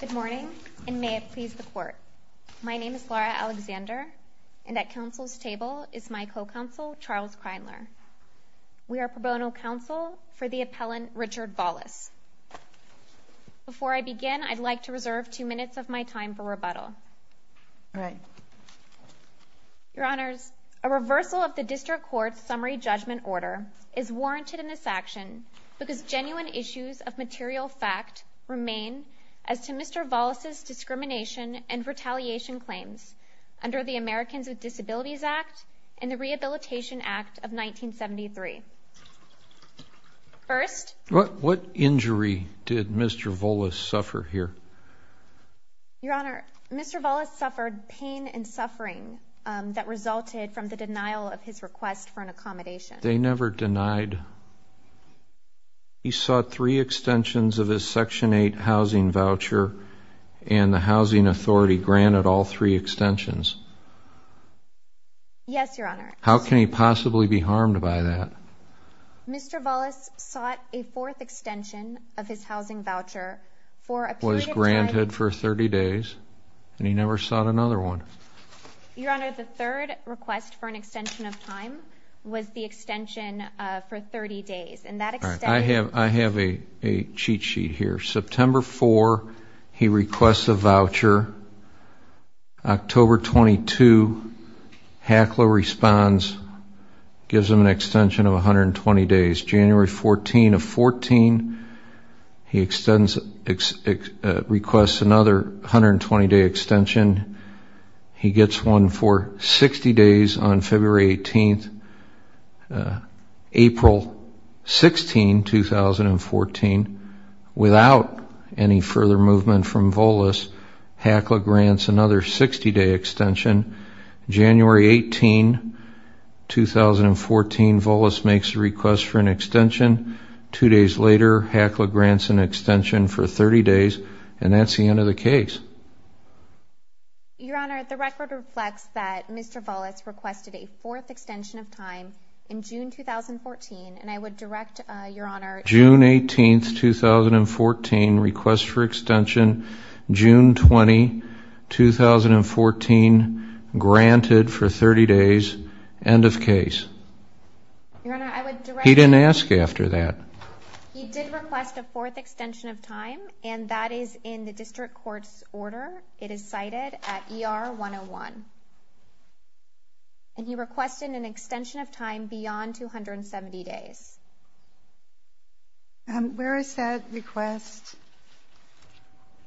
Good morning, and may it please the Court. My name is Laura Alexander, and at Council's table is my co-counsel, Charles Kreinler. We are pro bono counsel for the appellant Richard Volis. Before I begin, I'd like to reserve two minutes of my time for rebuttal. Your Honors, a reversal of the District Court's Summary Judgment Order is warranted in this case. The issues of material fact remain as to Mr. Volis' discrimination and retaliation claims under the Americans with Disabilities Act and the Rehabilitation Act of 1973. First – What injury did Mr. Volis suffer here? Your Honor, Mr. Volis suffered pain and suffering that resulted from the denial of his request for an accommodation. They never denied? He sought three extensions of his Section 8 housing voucher, and the Housing Authority granted all three extensions? Yes, Your Honor. How can he possibly be harmed by that? Mr. Volis sought a fourth extension of his housing voucher for a period of time – Was granted for 30 days, and he never sought another one? Your Honor, the third request for an extension of time was the extension for 30 days. I have a cheat sheet here. September 4, he requests a voucher. October 22, HACLA responds, gives him an extension of 120 days. January 14 of 14, he requests another 120-day extension. He gets one for 60 days on February 18. April 16, 2014, without any further movement from Volis, HACLA grants another 60-day extension. January 18, 2014, Volis makes a request for an extension. Two days later, HACLA grants an extension for 30 days, and that's the end of the case. Your Honor, the record reflects that Mr. Volis requested a fourth extension of time in June 2014, and I would direct Your Honor to – June 18, 2014, request for extension. June 20, 2014, granted for 30 days. End of case. Your Honor, I would direct – He didn't ask after that. He did request a fourth extension of time, and that is in the district court's order. It is cited at ER 101. And he requested an extension of time beyond 270 days. Where is that request?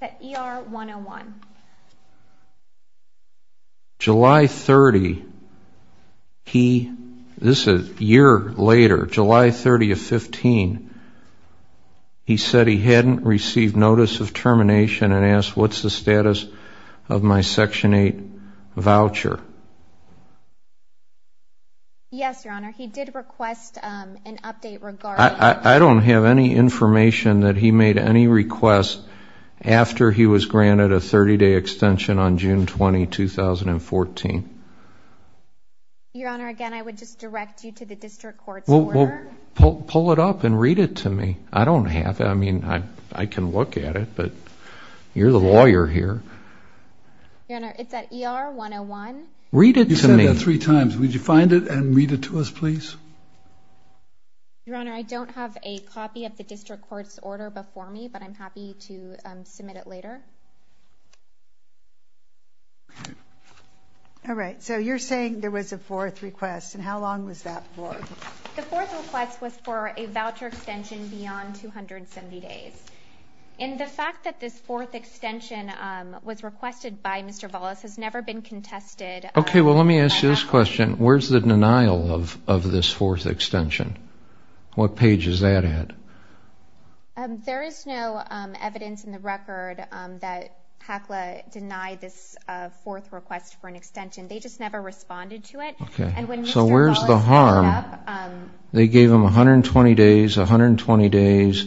It's at ER 101. Your Honor, July 30, this is a year later, July 30 of 15, he said he hadn't received notice of termination and asked what's the status of my Section 8 voucher. Yes, Your Honor, he did request an update regarding – I don't have any information that he made any requests after he was granted a 30-day extension on June 20, 2014. Your Honor, again, I would just direct you to the district court's order. Pull it up and read it to me. I don't have it. I mean, I can look at it, but you're the lawyer here. Your Honor, it's at ER 101. Read it to me. You said that three times. Would you find it and read it to us, please? Your Honor, I don't have a copy of the district court's order before me, but I'm happy to submit it later. All right, so you're saying there was a fourth request, and how long was that for? The fourth request was for a voucher extension beyond 270 days. And the fact that this fourth extension was requested by Mr. Vollis has never been contested. Okay, well, let me ask you this question. Where's the denial of this fourth extension? What page is that at? There is no evidence in the record that HACLA denied this fourth request for an extension. They just never responded to it. So where's the harm? They gave him 120 days, 120 days,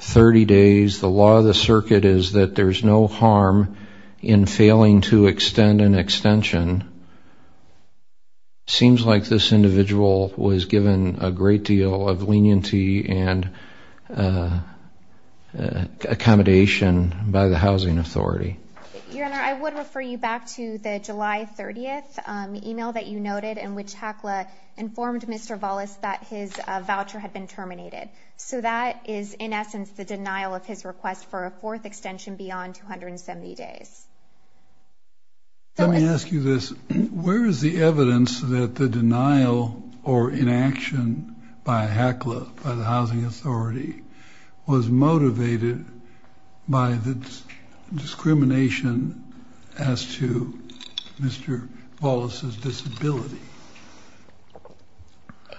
30 days. The law of the circuit is that there's no harm in failing to extend an extension. It seems like this individual was given a great deal of leniency and accommodation by the housing authority. Your Honor, I would refer you back to the July 30th email that you noted in which HACLA informed Mr. Vollis that his voucher had been terminated. So that is, in essence, the denial of his request for a fourth extension beyond 270 days. Let me ask you this. Where is the evidence that the denial or inaction by HACLA, by the housing authority, was motivated by the discrimination as to Mr. Vollis' disability?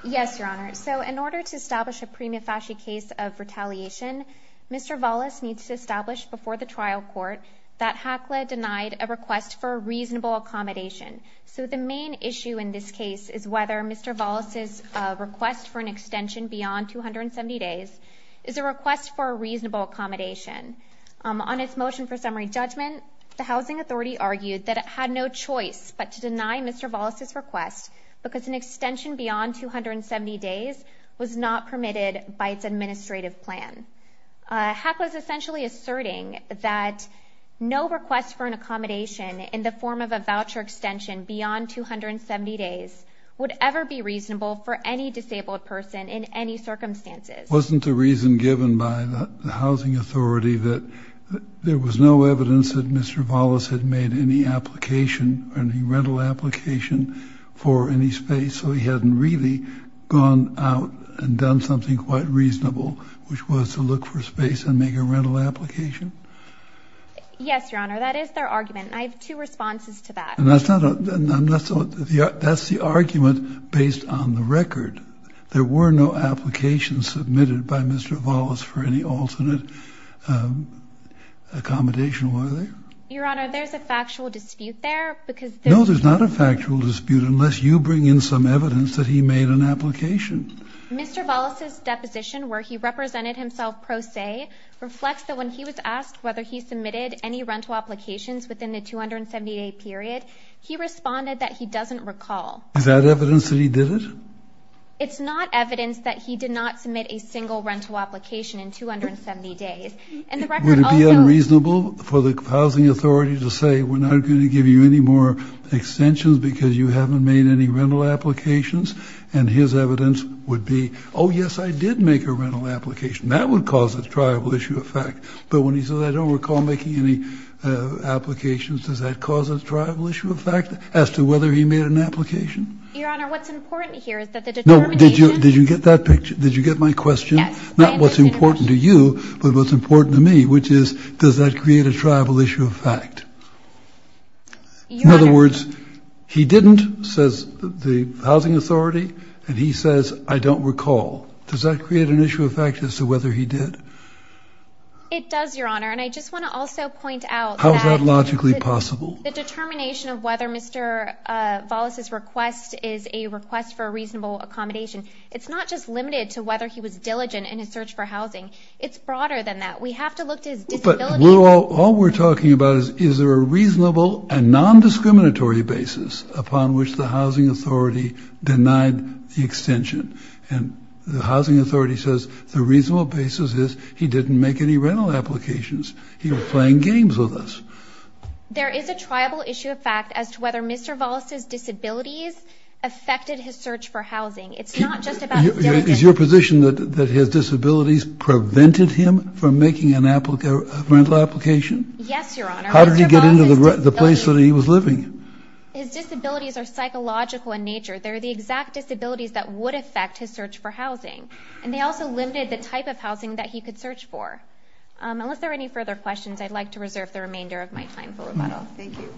Yes, Your Honor. So in order to establish a prima facie case of retaliation, Mr. Vollis needs to establish before the trial court that HACLA denied a request for a reasonable accommodation. So the main issue in this case is whether Mr. Vollis' request for an extension beyond 270 days is a request for a reasonable accommodation. On its motion for summary judgment, the housing authority argued that it had no choice but to deny Mr. Vollis' request because an extension beyond 270 days was not permitted by its administrative plan. HACLA is essentially asserting that no request for an accommodation in the form of a voucher extension beyond 270 days would ever be reasonable for any disabled person in any circumstances. Wasn't the reason given by the housing authority that there was no evidence that Mr. Vollis had made any application, any rental application, for any space? So he hadn't really gone out and done something quite reasonable, which was to look for space and make a rental application? Yes, Your Honor. That is their argument, and I have two responses to that. That's the argument based on the record. There were no applications submitted by Mr. Vollis for any alternate accommodation, were there? Your Honor, there's a factual dispute there because there's... No, there's not a factual dispute unless you bring in some evidence that he made an application. Mr. Vollis' deposition where he represented himself pro se reflects that when he was asked whether he submitted any rental applications within the 270-day period, he responded that he doesn't recall. Is that evidence that he did it? It's not evidence that he did not submit a single rental application in 270 days. And the record also... Oh, yes, I did make a rental application. That would cause a tribal issue of fact. But when he says, I don't recall making any applications, does that cause a tribal issue of fact as to whether he made an application? Your Honor, what's important here is that the determination... No, did you get that picture? Did you get my question? Yes. Not what's important to you, but what's important to me, which is, does that create a tribal issue of fact? Your Honor... He didn't, says the housing authority, and he says, I don't recall. Does that create an issue of fact as to whether he did? It does, Your Honor, and I just want to also point out that... How is that logically possible? The determination of whether Mr. Vollis' request is a request for a reasonable accommodation. It's not just limited to whether he was diligent in his search for housing. It's broader than that. We have to look to his disability... All we're talking about is, is there a reasonable and non-discriminatory basis upon which the housing authority denied the extension? And the housing authority says the reasonable basis is he didn't make any rental applications. He was playing games with us. There is a tribal issue of fact as to whether Mr. Vollis' disabilities affected his search for housing. It's not just about... Is your position that his disabilities prevented him from making a rental application? Yes, Your Honor. How did he get into the place that he was living? His disabilities are psychological in nature. They're the exact disabilities that would affect his search for housing. And they also limited the type of housing that he could search for. Unless there are any further questions, I'd like to reserve the remainder of my time for rebuttal. Thank you.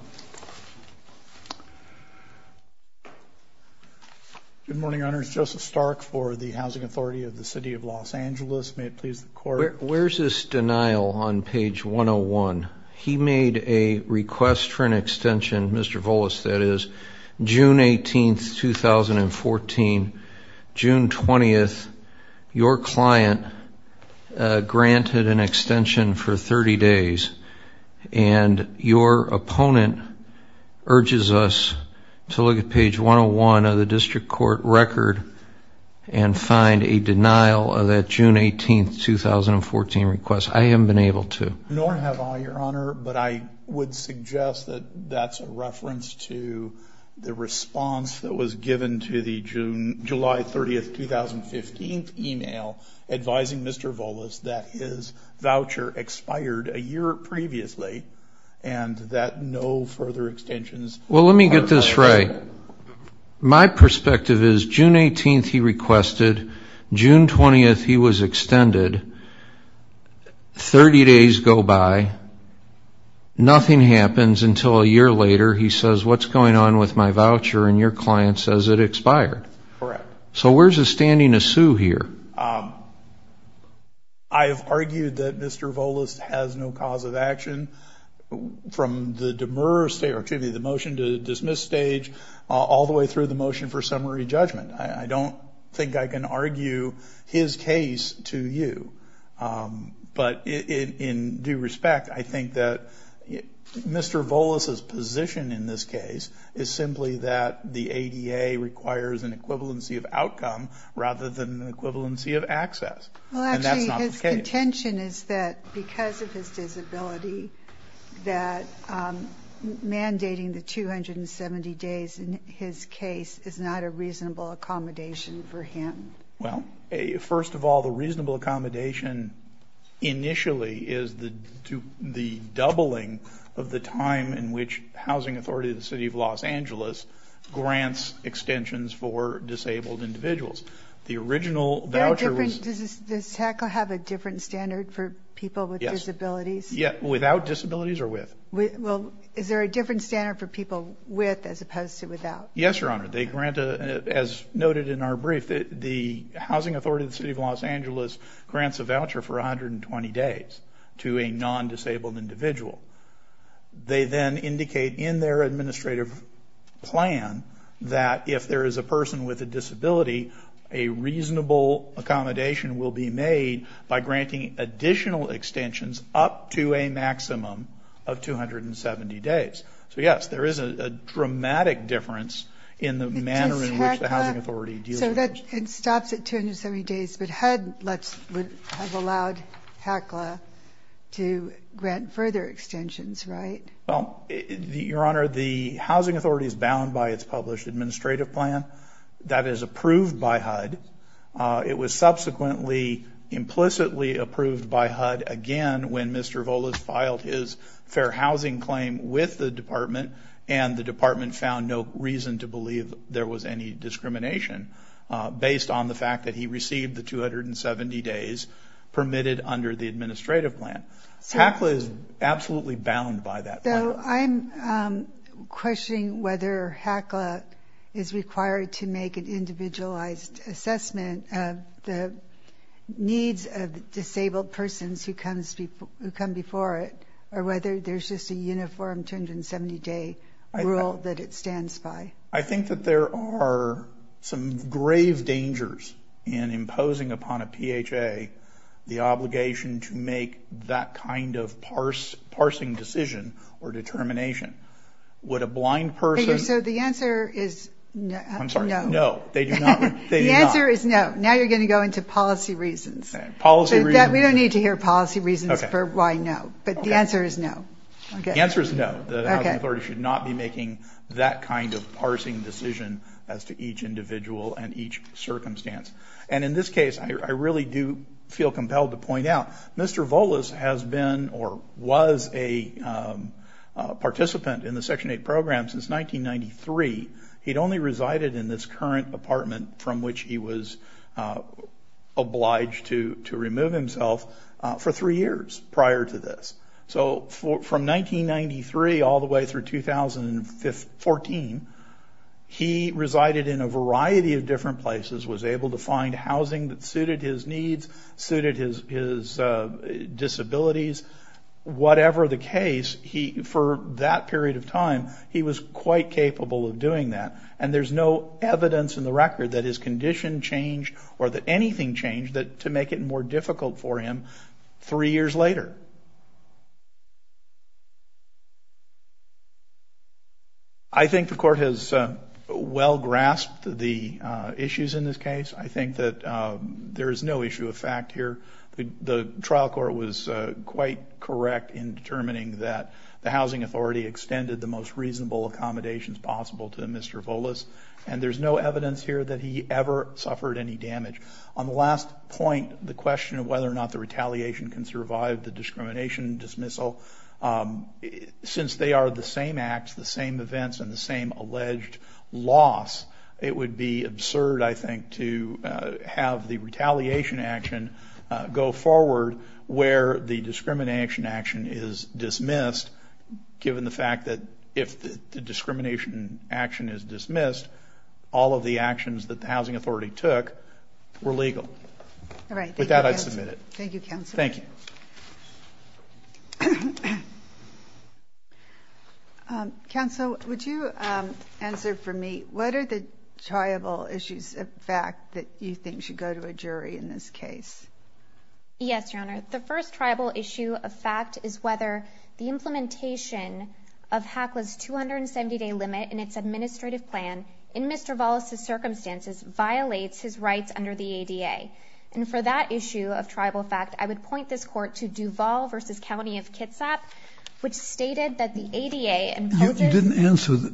Good morning, Your Honor. This is Joseph Stark for the Housing Authority of the City of Los Angeles. May it please the Court... Where's this denial on page 101? He made a request for an extension, Mr. Vollis that is, June 18th, 2014. June 20th, your client granted an extension for 30 days and your opponent urges us to look at page 101 of the district court record and find a denial of that June 18th, 2014 request. I haven't been able to. Nor have I, Your Honor, but I would suggest that that's a reference to the response that was given to the July 30th, 2015 email advising Mr. Vollis that his voucher expired a year previously and that no further extensions... Well, let me get this right. My perspective is June 18th he requested, June 20th he was extended, 30 days go by, nothing happens until a year later he says, what's going on with my voucher and your client says it expired. Correct. So where's the standing to sue here? I've argued that Mr. Vollis has no cause of action from the motion to dismiss stage all the way through the motion for summary judgment. I don't think I can argue his case to you, but in due respect, I think that Mr. Vollis's position in this case is simply that the ADA requires an equivalency of outcome rather than an equivalency of access. Well, actually his contention is that because of his disability that mandating the 270 days in his case is not a reasonable accommodation for him. Well, first of all, the reasonable accommodation initially is the doubling of the time in which Housing Authority of the City of Los Angeles grants extensions for disabled individuals. Does TAC have a different standard for people with disabilities? Yes. Without disabilities or with? Is there a different standard for people with as opposed to without? Yes, Your Honor. As noted in our brief, the Housing Authority of the City of Los Angeles grants a voucher for 120 days to a non-disabled individual. They then indicate in their administrative plan that if there is a person with a disability, a reasonable accommodation will be made by granting additional extensions up to a maximum of 270 days. So, yes, there is a dramatic difference in the manner in which the Housing Authority deals with this. It stops at 270 days, but HUD would have allowed HACLA to grant further extensions, right? Well, Your Honor, the Housing Authority is bound by its published administrative plan. That is approved by HUD. It was subsequently implicitly approved by HUD again when Mr. Voles filed his fair housing claim with the department and the department found no reason to believe there was any discrimination based on the fact that he received the 270 days permitted under the administrative plan. HACLA is absolutely bound by that plan. So I'm questioning whether HACLA is required to make an individualized assessment of the needs of disabled persons who come before it or whether there's just a uniform 270-day rule that it stands by. I think that there are some grave dangers in imposing upon a PHA the obligation to make that kind of parsing decision or determination. Would a blind person... So the answer is no. I'm sorry, no. No, they do not. The answer is no. Now you're going to go into policy reasons. Policy reasons. We don't need to hear policy reasons for why no. But the answer is no. The answer is no. The Housing Authority should not be making that kind of parsing decision as to each individual and each circumstance. And in this case, I really do feel compelled to point out Mr. Voles has been or was a participant in the Section 8 program since 1993. He'd only resided in this current apartment from which he was obliged to remove himself for three years prior to this. So from 1993 all the way through 2014, he resided in a variety of different places, was able to find housing that suited his needs, suited his disabilities. Whatever the case, for that period of time, he was quite capable of doing that. And there's no evidence in the record that his condition changed or that anything changed to make it more difficult for him three years later. I think the Court has well grasped the issues in this case. I think that there is no issue of fact here. The trial court was quite correct in determining that the Housing Authority extended the most reasonable accommodations possible to Mr. Voles. And there's no evidence here that he ever suffered any damage. On the last point, the question of whether or not the retaliation can survive the discrimination dismissal, since they are the same acts, the same events, and the same alleged loss, it would be absurd, I think, to have the retaliation action go forward where the discrimination action is dismissed, given the fact that if the discrimination action is dismissed, all of the actions that the Housing Authority took were legal. All right. With that, I submit it. Thank you, Counsel. Thank you. Counsel, would you answer for me what are the tribal issues of fact that you think should go to a jury in this case? Yes, Your Honor. The first tribal issue of fact is whether the implementation of HACLA's 270-day limit in its administrative plan, in Mr. Voles' circumstances, violates his rights under the ADA. And for that issue of tribal fact, I would point this Court to Duval v. County of Kitsap, which stated that the ADA imposes… You didn't answer the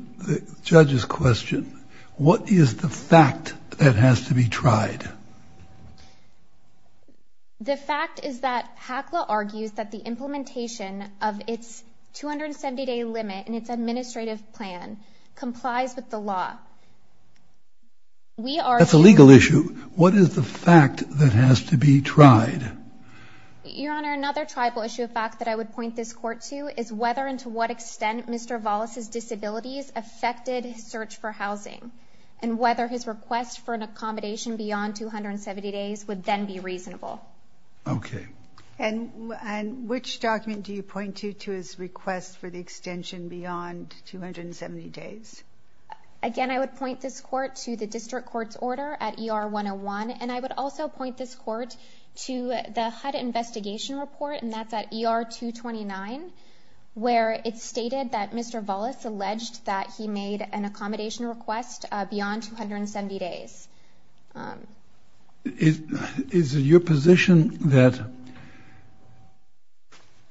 judge's question. What is the fact that has to be tried? The fact is that HACLA argues that the implementation of its 270-day limit in its administrative plan complies with the law. We are… That's a legal issue. What is the fact that has to be tried? Your Honor, another tribal issue of fact that I would point this Court to is whether and to what extent Mr. Voles' disabilities affected his search for housing and whether his request for an accommodation beyond 270 days would then be reasonable. Okay. And which document do you point to to his request for the extension beyond 270 days? Again, I would point this Court to the District Court's order at ER 101, and I would also point this Court to the HUD investigation report, and that's at ER 229, where it's stated that Mr. Voles alleged that he made an accommodation request beyond 270 days. Is it your position that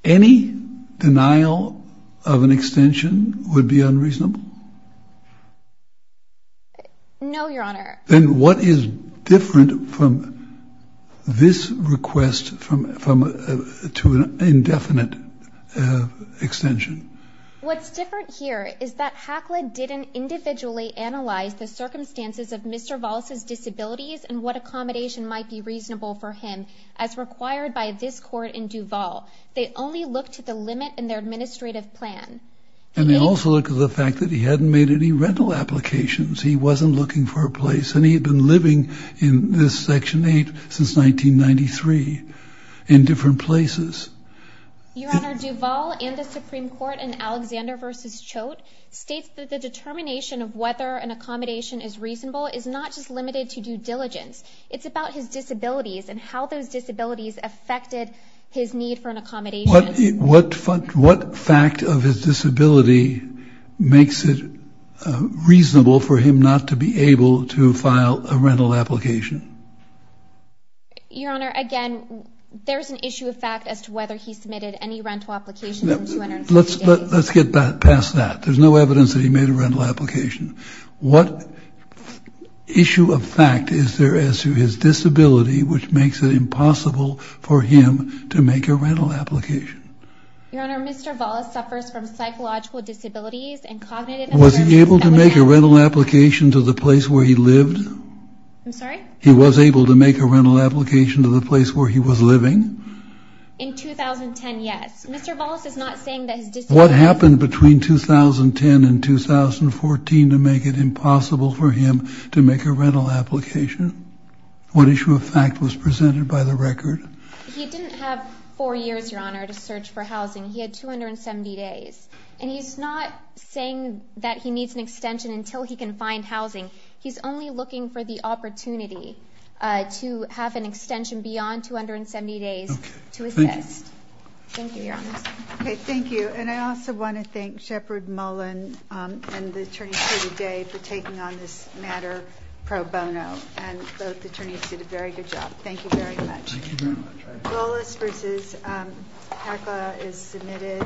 any denial of an extension would be unreasonable? No, Your Honor. Then what is different from this request to an indefinite extension? What's different here is that HACLA didn't individually analyze the circumstances of Mr. Voles' disabilities and what accommodation might be reasonable for him as required by this Court in Duval. They only looked at the limit in their administrative plan. And they also looked at the fact that he hadn't made any rental applications. He wasn't looking for a place, and he had been living in this Section 8 since 1993 in different places. Your Honor, Duval and the Supreme Court in Alexander v. Choate states that the determination of whether an accommodation is reasonable is not just limited to due diligence. It's about his disabilities and how those disabilities affected his need for an accommodation. What fact of his disability makes it reasonable for him not to be able to file a rental application? Your Honor, again, there's an issue of fact as to whether he submitted any rental applications in 270 days. Let's get past that. There's no evidence that he made a rental application. What issue of fact is there as to his disability which makes it impossible for him to make a rental application? Your Honor, Mr. Voles suffers from psychological disabilities and cognitive impairment. Was he able to make a rental application to the place where he lived? I'm sorry? He was able to make a rental application to the place where he was living? In 2010, yes. Mr. Voles is not saying that his disability... What happened between 2010 and 2014 to make it impossible for him to make a rental application? What issue of fact was presented by the record? He didn't have four years, Your Honor, to search for housing. He had 270 days. And he's not saying that he needs an extension until he can find housing. He's only looking for the opportunity to have an extension beyond 270 days to assist. Okay. Thank you. Thank you, Your Honor. Okay, thank you. And I also want to thank Shepard Mullen and the attorneys here today for taking on this matter pro bono. And both attorneys did a very good job. Thank you very much. Thank you very much. Voles v. Hakla is submitted.